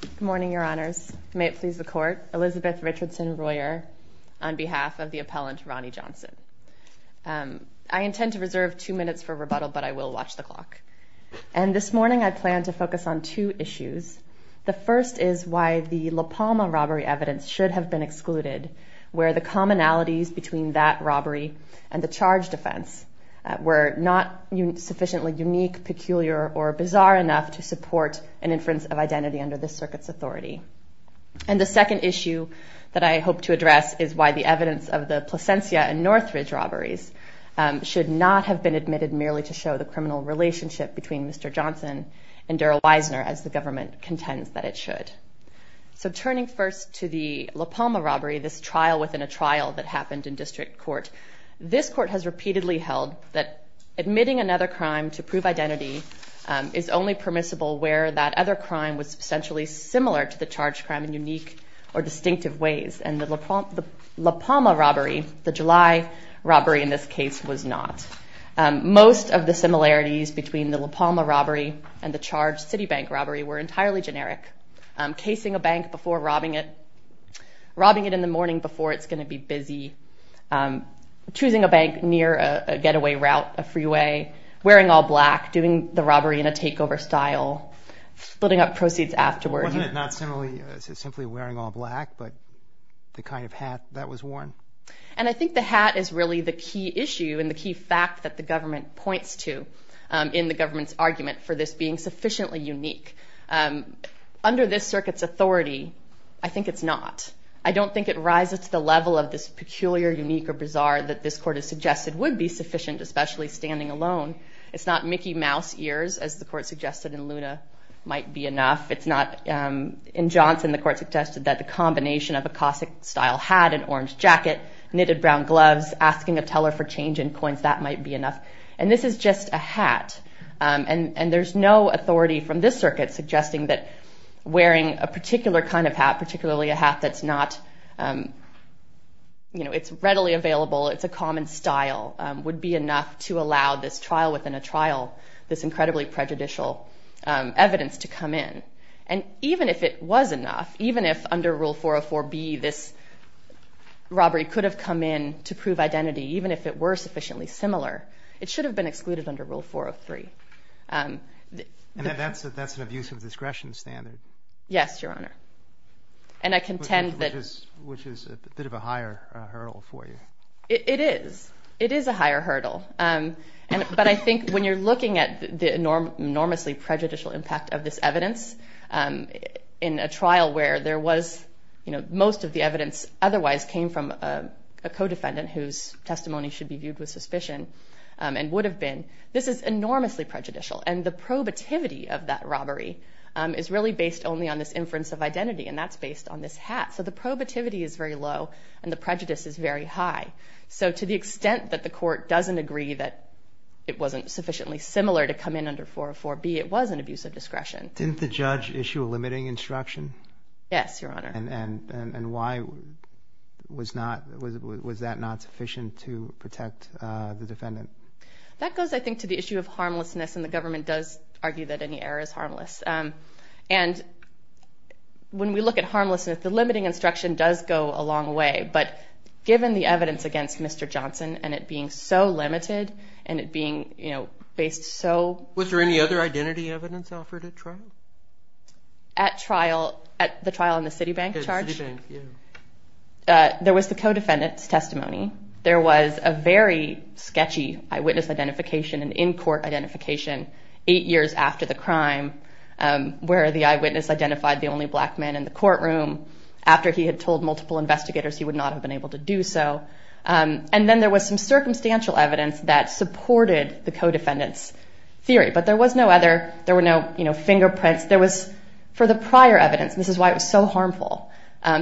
Good morning, your honors. May it please the court. Elizabeth Richardson-Royer, on behalf of the appellant, Ronnie Johnson. I intend to reserve two minutes for rebuttal, but I will watch the clock. And this morning I plan to focus on two issues. The first is why the La Palma robbery evidence should have been excluded, where the commonalities between that robbery and the charge defense were not sufficiently unique, peculiar, or bizarre enough to support an inference of identity under this circuit's authority. And the second issue that I hope to address is why the evidence of the Placencia and Northridge robberies should not have been admitted merely to show the criminal relationship between Mr. Johnson and Daryl Wisner, as the government contends that it should. So turning first to the La Palma robbery, this trial within a trial that happened in district court, this court has repeatedly held that admitting another crime to prove identity is only permissible where that other crime was substantially similar to the charged crime in unique or distinctive ways. And the La Palma robbery, the July robbery in this case, was not. Most of the similarities between the La Palma robbery and the charged Citibank robbery were entirely generic. Casing a bank before robbing it, robbing it in the morning before it's going to be busy, choosing a bank near a getaway route, a freeway, wearing all black, doing the robbery in a takeover style, splitting up proceeds afterwards. Wasn't it not simply wearing all black, but the kind of hat that was worn? And I think the hat is really the key issue and the key fact that the government points to in the government's argument for this being sufficiently unique. Under this circuit's authority, I think it's not. I don't think it rises to the level of this peculiar, unique, or bizarre that this court has suggested would be sufficient, especially standing alone. It's not Mickey Mouse ears, as the court suggested in Luna, might be enough. It's not in Johnson the court suggested that the combination of a Cossack style hat and orange jacket, knitted brown gloves, asking a teller for change in coins, that might be enough. And this is just a hat. And there's no authority from this circuit suggesting that wearing a particular kind of hat, particularly a hat that's not, you know, it's readily available, it's a common style, would be enough to allow this trial within a trial, this incredibly prejudicial evidence to come in. And even if it was enough, even if under Rule 404B, this robbery could have come in to prove identity, even if it were sufficiently similar, it should have been excluded under Rule 403. And that's an abuse of discretion standard. Yes, Your Honor. And I contend that... Which is a bit of a higher hurdle for you. It is. It is a higher hurdle. But I think when you're looking at the enormously prejudicial impact of this evidence, in a trial where there was, you know, most of the evidence otherwise came from a co-defendant whose testimony should be viewed with suspicion, and would have been, this is enormously prejudicial. And the probativity of that robbery is really based only on this inference of identity, and that's based on this hat. So the probativity is very low, and the prejudice is very high. So to the extent that the court doesn't agree that it wasn't sufficiently similar to come in under 404B, it was an abuse of discretion. Didn't the judge issue a limiting instruction? Yes, Your Honor. And why was that not sufficient to protect the defendant? That goes, I think, to the issue of harmlessness, and the government does argue that any error is harmless. And when we look at harmlessness, the limiting instruction does go a long way. But given the evidence against Mr. Johnson, and it being so limited, and it being, you know, based so... Was there any other identity evidence offered at trial? At trial, at the trial in the Citibank charge? At Citibank, yeah. There was the co-defendant's testimony. There was a very sketchy eyewitness identification, an in-court identification, eight years after the crime, where the eyewitness identified the only black man in the courtroom. After he had told multiple investigators he would not have been able to do so. And then there was some circumstantial evidence that supported the co-defendant's theory. But there was no other, there were no, you know, fingerprints. There was, for the prior evidence, and this is why it was so harmful,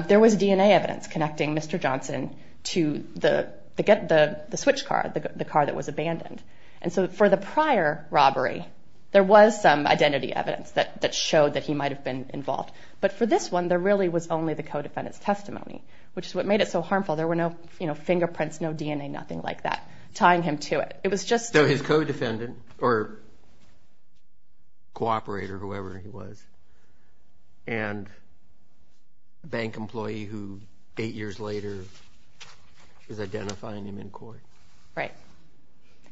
there was DNA evidence connecting Mr. Johnson to the switch car, the car that was abandoned. And so for the prior robbery, there was some identity evidence that showed that he might have been involved. But for this one, there really was only the co-defendant's testimony, which is what made it so harmful. There were no, you know, fingerprints, no DNA, nothing like that, tying him to it. It was just... Co-defendant, or cooperator, whoever he was. And a bank employee who, eight years later, was identifying him in court. Right.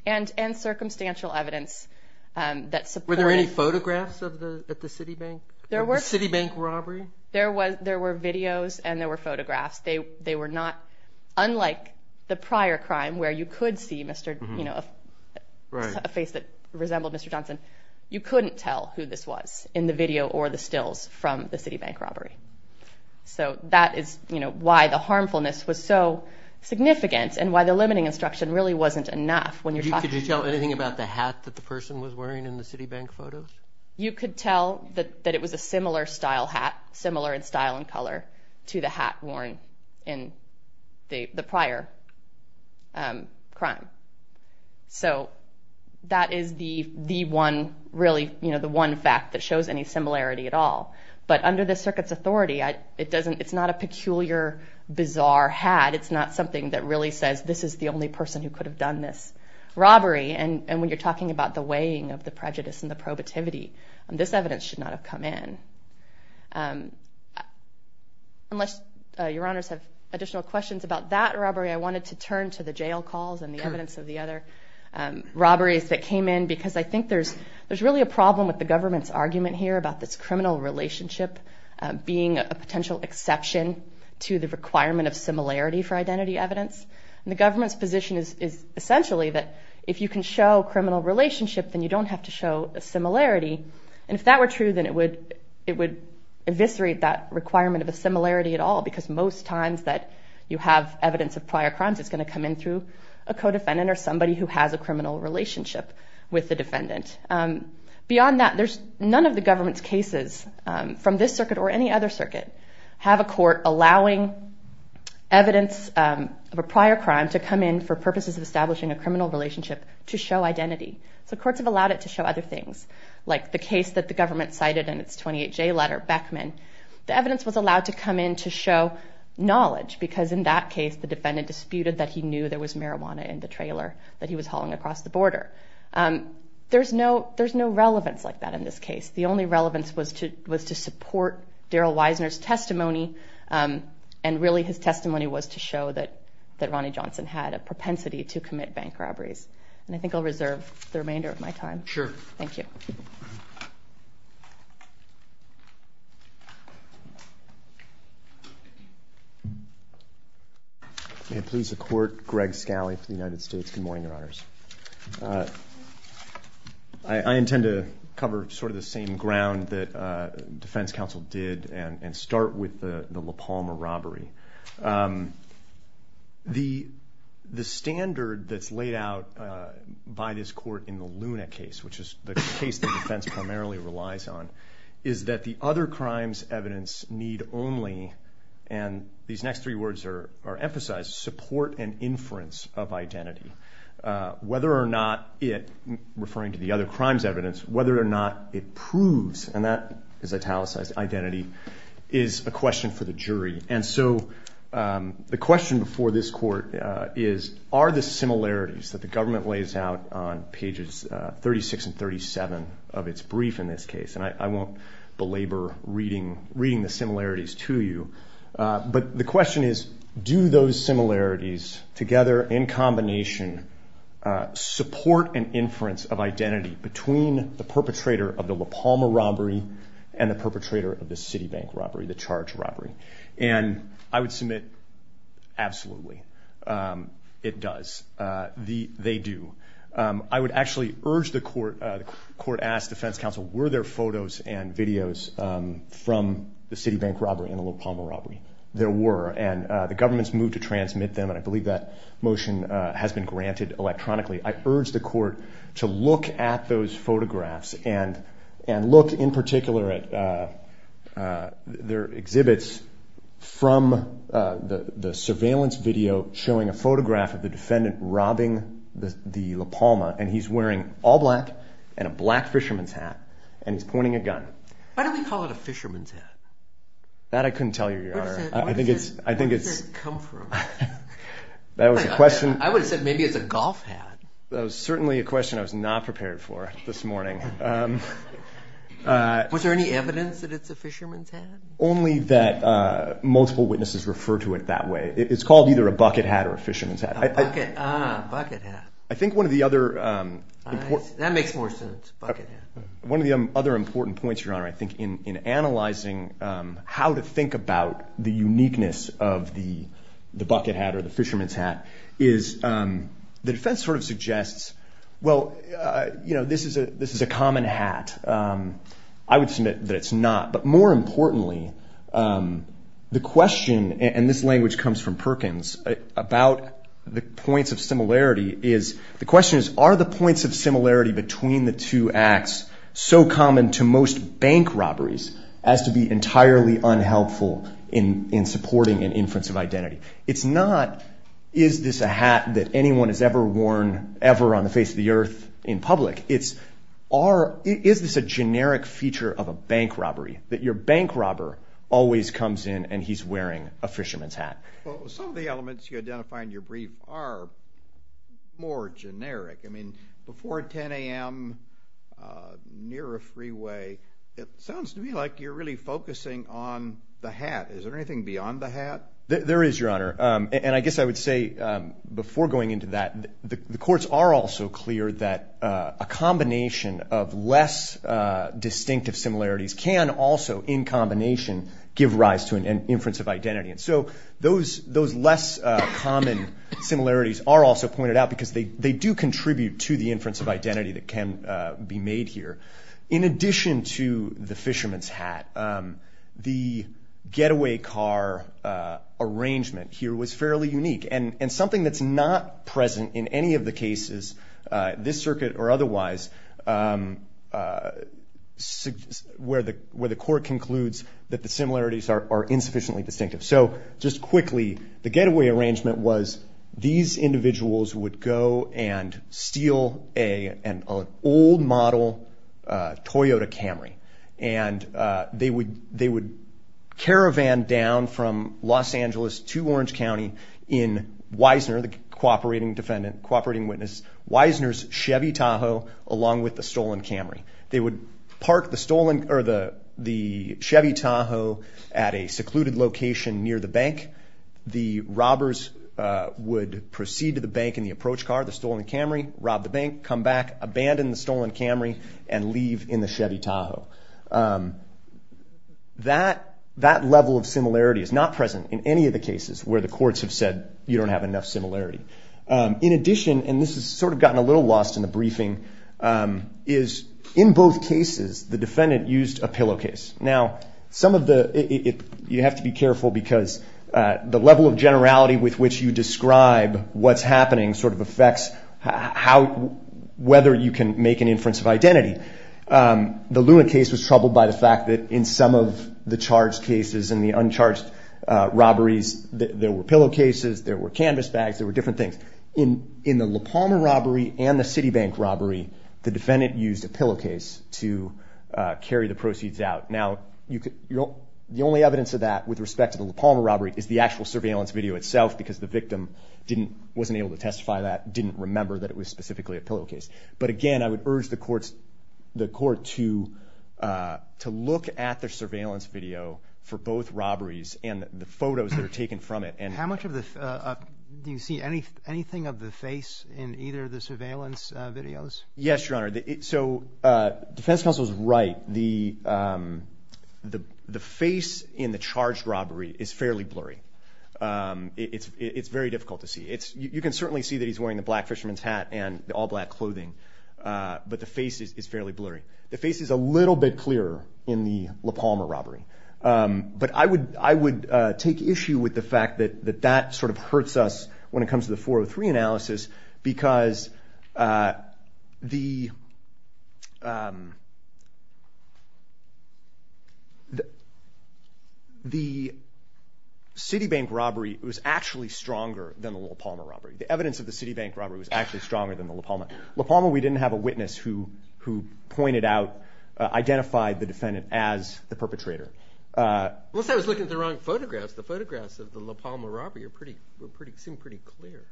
And circumstantial evidence that supported... Were there any photographs at the Citibank? There were. At the Citibank robbery? There were videos and there were photographs. They were not, unlike the prior crime where you could see, you know, a face that resembled Mr. Johnson, you couldn't tell who this was in the video or the stills from the Citibank robbery. So that is, you know, why the harmfulness was so significant and why the limiting instruction really wasn't enough when you're talking... Could you tell anything about the hat that the person was wearing in the Citibank photos? You could tell that it was a similar style hat, similar in style and color, to the hat worn in the prior crime. So that is the one, really, you know, the one fact that shows any similarity at all. But under the circuit's authority, it doesn't... It's not a peculiar, bizarre hat. It's not something that really says, this is the only person who could have done this robbery. And when you're talking about the weighing of the prejudice and the probativity, this evidence should not have come in. Unless your honors have additional questions about that robbery, I wanted to turn to the jail calls and the evidence of the other robberies that came in because I think there's really a problem with the government's argument here about this criminal relationship being a potential exception to the requirement of similarity for identity evidence. And the government's position is essentially that if you can show criminal relationship, then you don't have to show a similarity. And if that were true, then it would eviscerate that requirement of a similarity at all because most times that you have evidence of prior crimes, it's going to come in through a co-defendant or somebody who has a criminal relationship with the defendant. Beyond that, there's... None of the government's cases from this circuit or any other circuit have a court allowing evidence of a prior crime to come in for purposes of establishing a criminal relationship to show identity. So courts have allowed it to show other things, like the case that the government cited in its 28-J letter, Beckman. The evidence was allowed to come in to show knowledge because in that case, the defendant disputed that he knew there was marijuana in the trailer that he was hauling across the border. There's no relevance like that in this case. The only relevance was to support Darrell Wisner's testimony and really his testimony was to show that Ronny Johnson had a propensity to commit bank robberies. And I think I'll reserve the remainder of my time. Sure. Thank you. May it please the Court, Greg Scali for the United States. Good morning, Your Honors. I intend to cover sort of the same ground that defense counsel did and start with the La Palma robbery. The standard that's laid out by this court in the Luna case, which is the case that defense primarily relies on, is that the other crimes evidence need only, and these next three words are emphasized, support and inference of identity. Whether or not it, referring to the other crimes evidence, whether or not it proves, and that is italicized identity, is a question for the jury. And so the question before this court is, are the similarities that the government lays out on pages 36 and 37 of its brief in this case, and I won't belabor reading the similarities to you, but the question is, do those similarities together, in combination, support an inference of identity between the perpetrator of the La Palma robbery and the perpetrator of the Citibank robbery, the charged robbery? And I would submit absolutely it does. They do. I would actually urge the court, the court asks defense counsel, were there photos and videos from the Citibank robbery and the La Palma robbery? There were, and the government's moved to transmit them, and I believe that motion has been granted electronically. I urge the court to look at those photographs and look in particular at their exhibits from the surveillance video showing a photograph of the defendant robbing the La Palma, and he's wearing all black and a black fisherman's hat, and he's pointing a gun. Why do we call it a fisherman's hat? That I couldn't tell you, Your Honor. Where does it come from? That was the question. I would have said maybe it's a golf hat. That was certainly a question I was not prepared for this morning. Was there any evidence that it's a fisherman's hat? Only that multiple witnesses refer to it that way. It's called either a bucket hat or a fisherman's hat. Ah, bucket hat. I think one of the other important points, Your Honor, I think in analyzing how to think about the uniqueness of the bucket hat or the fisherman's hat is the defense sort of suggests, well, you know, this is a common hat. I would submit that it's not. But more importantly, the question, and this language comes from Perkins, about the points of similarity is the question is, are the points of similarity between the two acts so common to most bank robberies as to be entirely unhelpful in supporting an inference of identity? It's not is this a hat that anyone has ever worn ever on the face of the earth in public. It's is this a generic feature of a bank robbery, that your bank robber always comes in and he's wearing a fisherman's hat? Well, some of the elements you identify in your brief are more generic. I mean, before 10 a.m. near a freeway, it sounds to me like you're really focusing on the hat. Is there anything beyond the hat? There is, Your Honor. And I guess I would say before going into that, the courts are also clear that a combination of less distinctive similarities can also in combination give rise to an inference of identity. And so those less common similarities are also pointed out because they do contribute to the inference of identity that can be made here. In addition to the fisherman's hat, the getaway car arrangement here was fairly unique, and something that's not present in any of the cases, this circuit or otherwise, where the court concludes that the similarities are insufficiently distinctive. So just quickly, the getaway arrangement was these individuals would go and steal an old model Toyota Camry, and they would caravan down from Los Angeles to Orange County in Weisner, the cooperating defendant, cooperating witness, Weisner's Chevy Tahoe, along with the stolen Camry. They would park the Chevy Tahoe at a secluded location near the bank. The robbers would proceed to the bank in the approach car, the stolen Camry, rob the bank, come back, abandon the stolen Camry, and leave in the Chevy Tahoe. That level of similarity is not present in any of the cases where the courts have said you don't have enough similarity. In addition, and this has sort of gotten a little lost in the briefing, is in both cases the defendant used a pillowcase. Now, you have to be careful because the level of generality with which you describe what's happening sort of affects whether you can make an inference of identity. The Luna case was troubled by the fact that in some of the charged cases and the uncharged robberies, there were pillowcases, there were canvas bags, there were different things. In the La Palma robbery and the Citibank robbery, the defendant used a pillowcase to carry the proceeds out. Now, the only evidence of that with respect to the La Palma robbery is the actual surveillance video itself because the victim wasn't able to testify to that, didn't remember that it was specifically a pillowcase. But again, I would urge the court to look at the surveillance video for both robberies and the photos that are taken from it. How much of the – do you see anything of the face in either of the surveillance videos? Yes, Your Honor. So Defense Counsel is right. The face in the charged robbery is fairly blurry. It's very difficult to see. You can certainly see that he's wearing the black fisherman's hat and the all-black clothing, but the face is fairly blurry. The face is a little bit clearer in the La Palma robbery. But I would take issue with the fact that that sort of hurts us when it comes to the 403 analysis because the Citibank robbery was actually stronger than the La Palma robbery. The evidence of the Citibank robbery was actually stronger than the La Palma. La Palma, we didn't have a witness who pointed out, identified the defendant as the perpetrator. Unless I was looking at the wrong photographs. The photographs of the La Palma robbery seem pretty clear.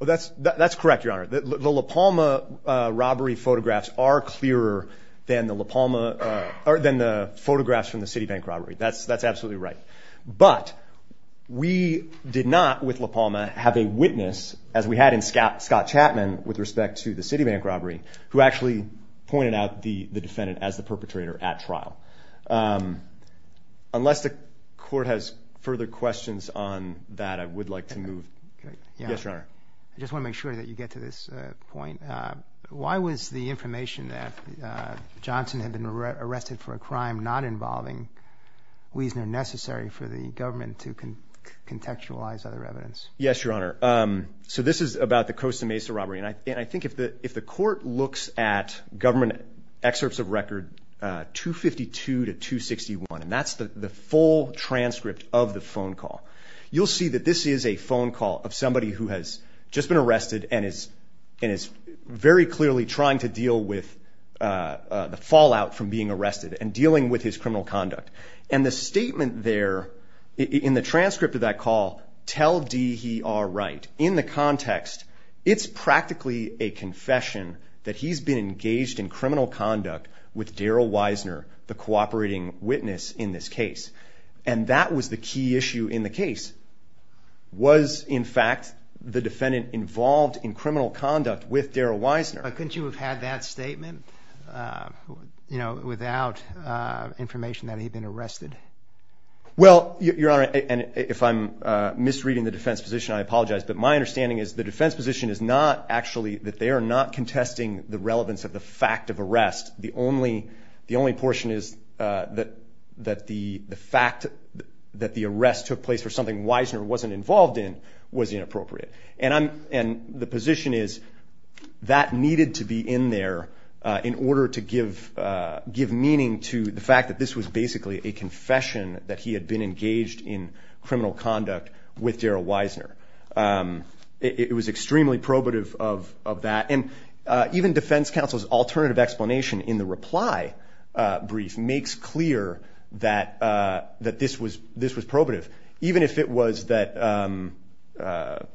That's correct, Your Honor. The La Palma robbery photographs are clearer than the La Palma – than the photographs from the Citibank robbery. That's absolutely right. But we did not, with La Palma, have a witness, as we had in Scott Chapman with respect to the Citibank robbery, who actually pointed out the defendant as the perpetrator at trial. Unless the Court has further questions on that, I would like to move – Yes, Your Honor. I just want to make sure that you get to this point. Why was the information that Johnson had been arrested for a crime not involving Wiesner necessary for the government to contextualize other evidence? Yes, Your Honor. This is about the Costa Mesa robbery. I think if the Court looks at government excerpts of record 252 to 261, and that's the full transcript of the phone call, you'll see that this is a phone call of somebody who has just been arrested and is very clearly trying to deal with the fallout from being arrested and dealing with his criminal conduct. And the statement there in the transcript of that call, tell D he are right, in the context, it's practically a confession that he's been engaged in criminal conduct with Daryl Wiesner, the cooperating witness in this case. And that was the key issue in the case. Was, in fact, the defendant involved in criminal conduct with Daryl Wiesner? Couldn't you have had that statement without information that he had been arrested? Well, Your Honor, and if I'm misreading the defense position, I apologize, but my understanding is the defense position is not actually that they are not contesting the relevance of the fact of arrest. The only portion is that the fact that the arrest took place for something Wiesner wasn't involved in was inappropriate. And the position is that needed to be in there in order to give meaning to the fact that this was basically a confession that he had been engaged in criminal conduct with Daryl Wiesner. It was extremely probative of that. And even defense counsel's alternative explanation in the reply brief makes clear that this was probative, even if it was that the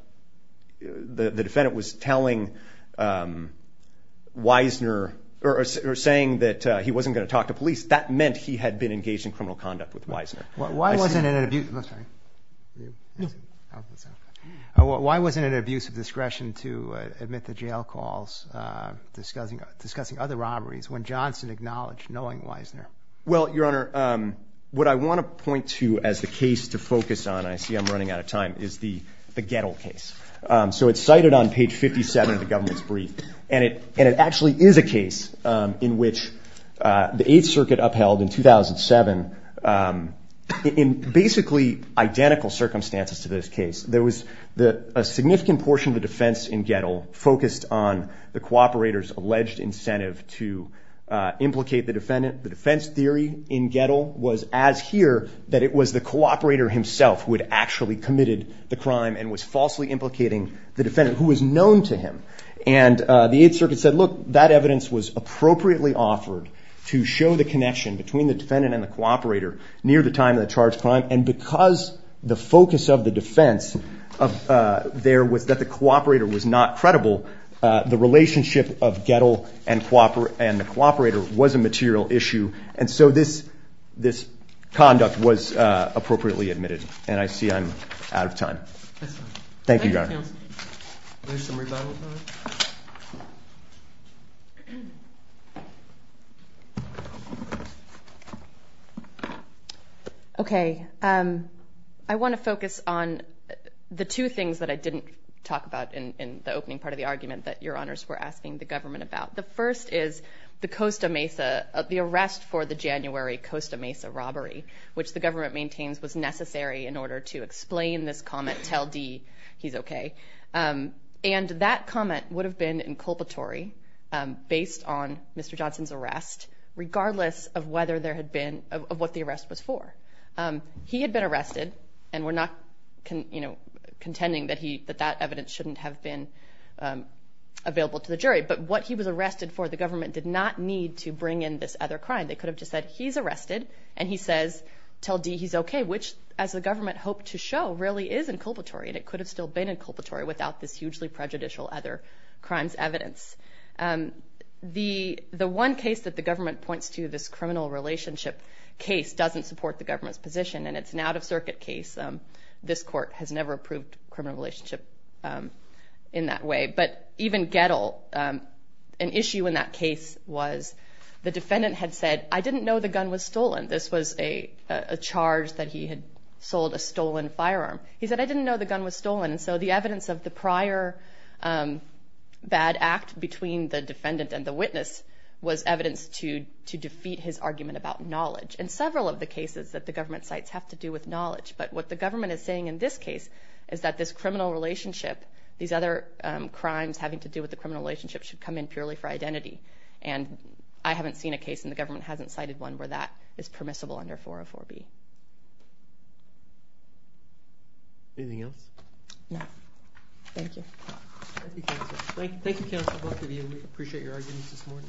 defendant was telling Wiesner or saying that he wasn't going to talk to police, that meant he had been engaged in criminal conduct with Wiesner. Why wasn't it an abuse of discretion to admit to jail calls discussing other robberies when Johnson acknowledged knowing Wiesner? Well, Your Honor, what I want to point to as the case to focus on, and I see I'm running out of time, is the Gettle case. So it's cited on page 57 of the government's brief. And it actually is a case in which the Eighth Circuit upheld in 2007 in basically identical circumstances to this case. There was a significant portion of the defense in Gettle focused on the cooperator's alleged incentive to implicate the defendant. The defense theory in Gettle was as here that it was the cooperator himself who had actually committed the crime and was falsely implicating the defendant who was known to him. And the Eighth Circuit said, look, that evidence was appropriately offered to show the connection between the defendant and the cooperator near the time of the charged crime. And because the focus of the defense there was that the cooperator was not credible, the relationship of Gettle and the cooperator was a material issue. And so this conduct was appropriately admitted. And I see I'm out of time. Thank you, Your Honor. Is there some rebuttal time? Okay. I want to focus on the two things that I didn't talk about in the opening part of the argument that Your Honors were asking the government about. The first is the Costa Mesa, the arrest for the January Costa Mesa robbery, which the government maintains was necessary in order to explain this comment, tell D he's okay. And that comment would have been inculpatory based on Mr. Johnson's arrest, regardless of what the arrest was for. He had been arrested, and we're not contending that that evidence shouldn't have been available to the jury. But what he was arrested for, the government did not need to bring in this other crime. They could have just said he's arrested, and he says, tell D he's okay, which, as the government hoped to show, really is inculpatory, and it could have still been inculpatory without this hugely prejudicial other crimes evidence. The one case that the government points to, this criminal relationship case, doesn't support the government's position, and it's an out-of-circuit case. This court has never approved criminal relationship in that way. But even Gettle, an issue in that case was the defendant had said, I didn't know the gun was stolen. This was a charge that he had sold a stolen firearm. He said, I didn't know the gun was stolen. And so the evidence of the prior bad act between the defendant and the witness was evidence to defeat his argument about knowledge. And several of the cases that the government cites have to do with knowledge. But what the government is saying in this case is that this criminal relationship, these other crimes having to do with the criminal relationship, should come in purely for identity. And I haven't seen a case, and the government hasn't cited one, where that is permissible under 404B. Anything else? No. Thank you. Thank you, counsel. Thank you, counsel, both of you. We appreciate your arguments this morning. Thank you.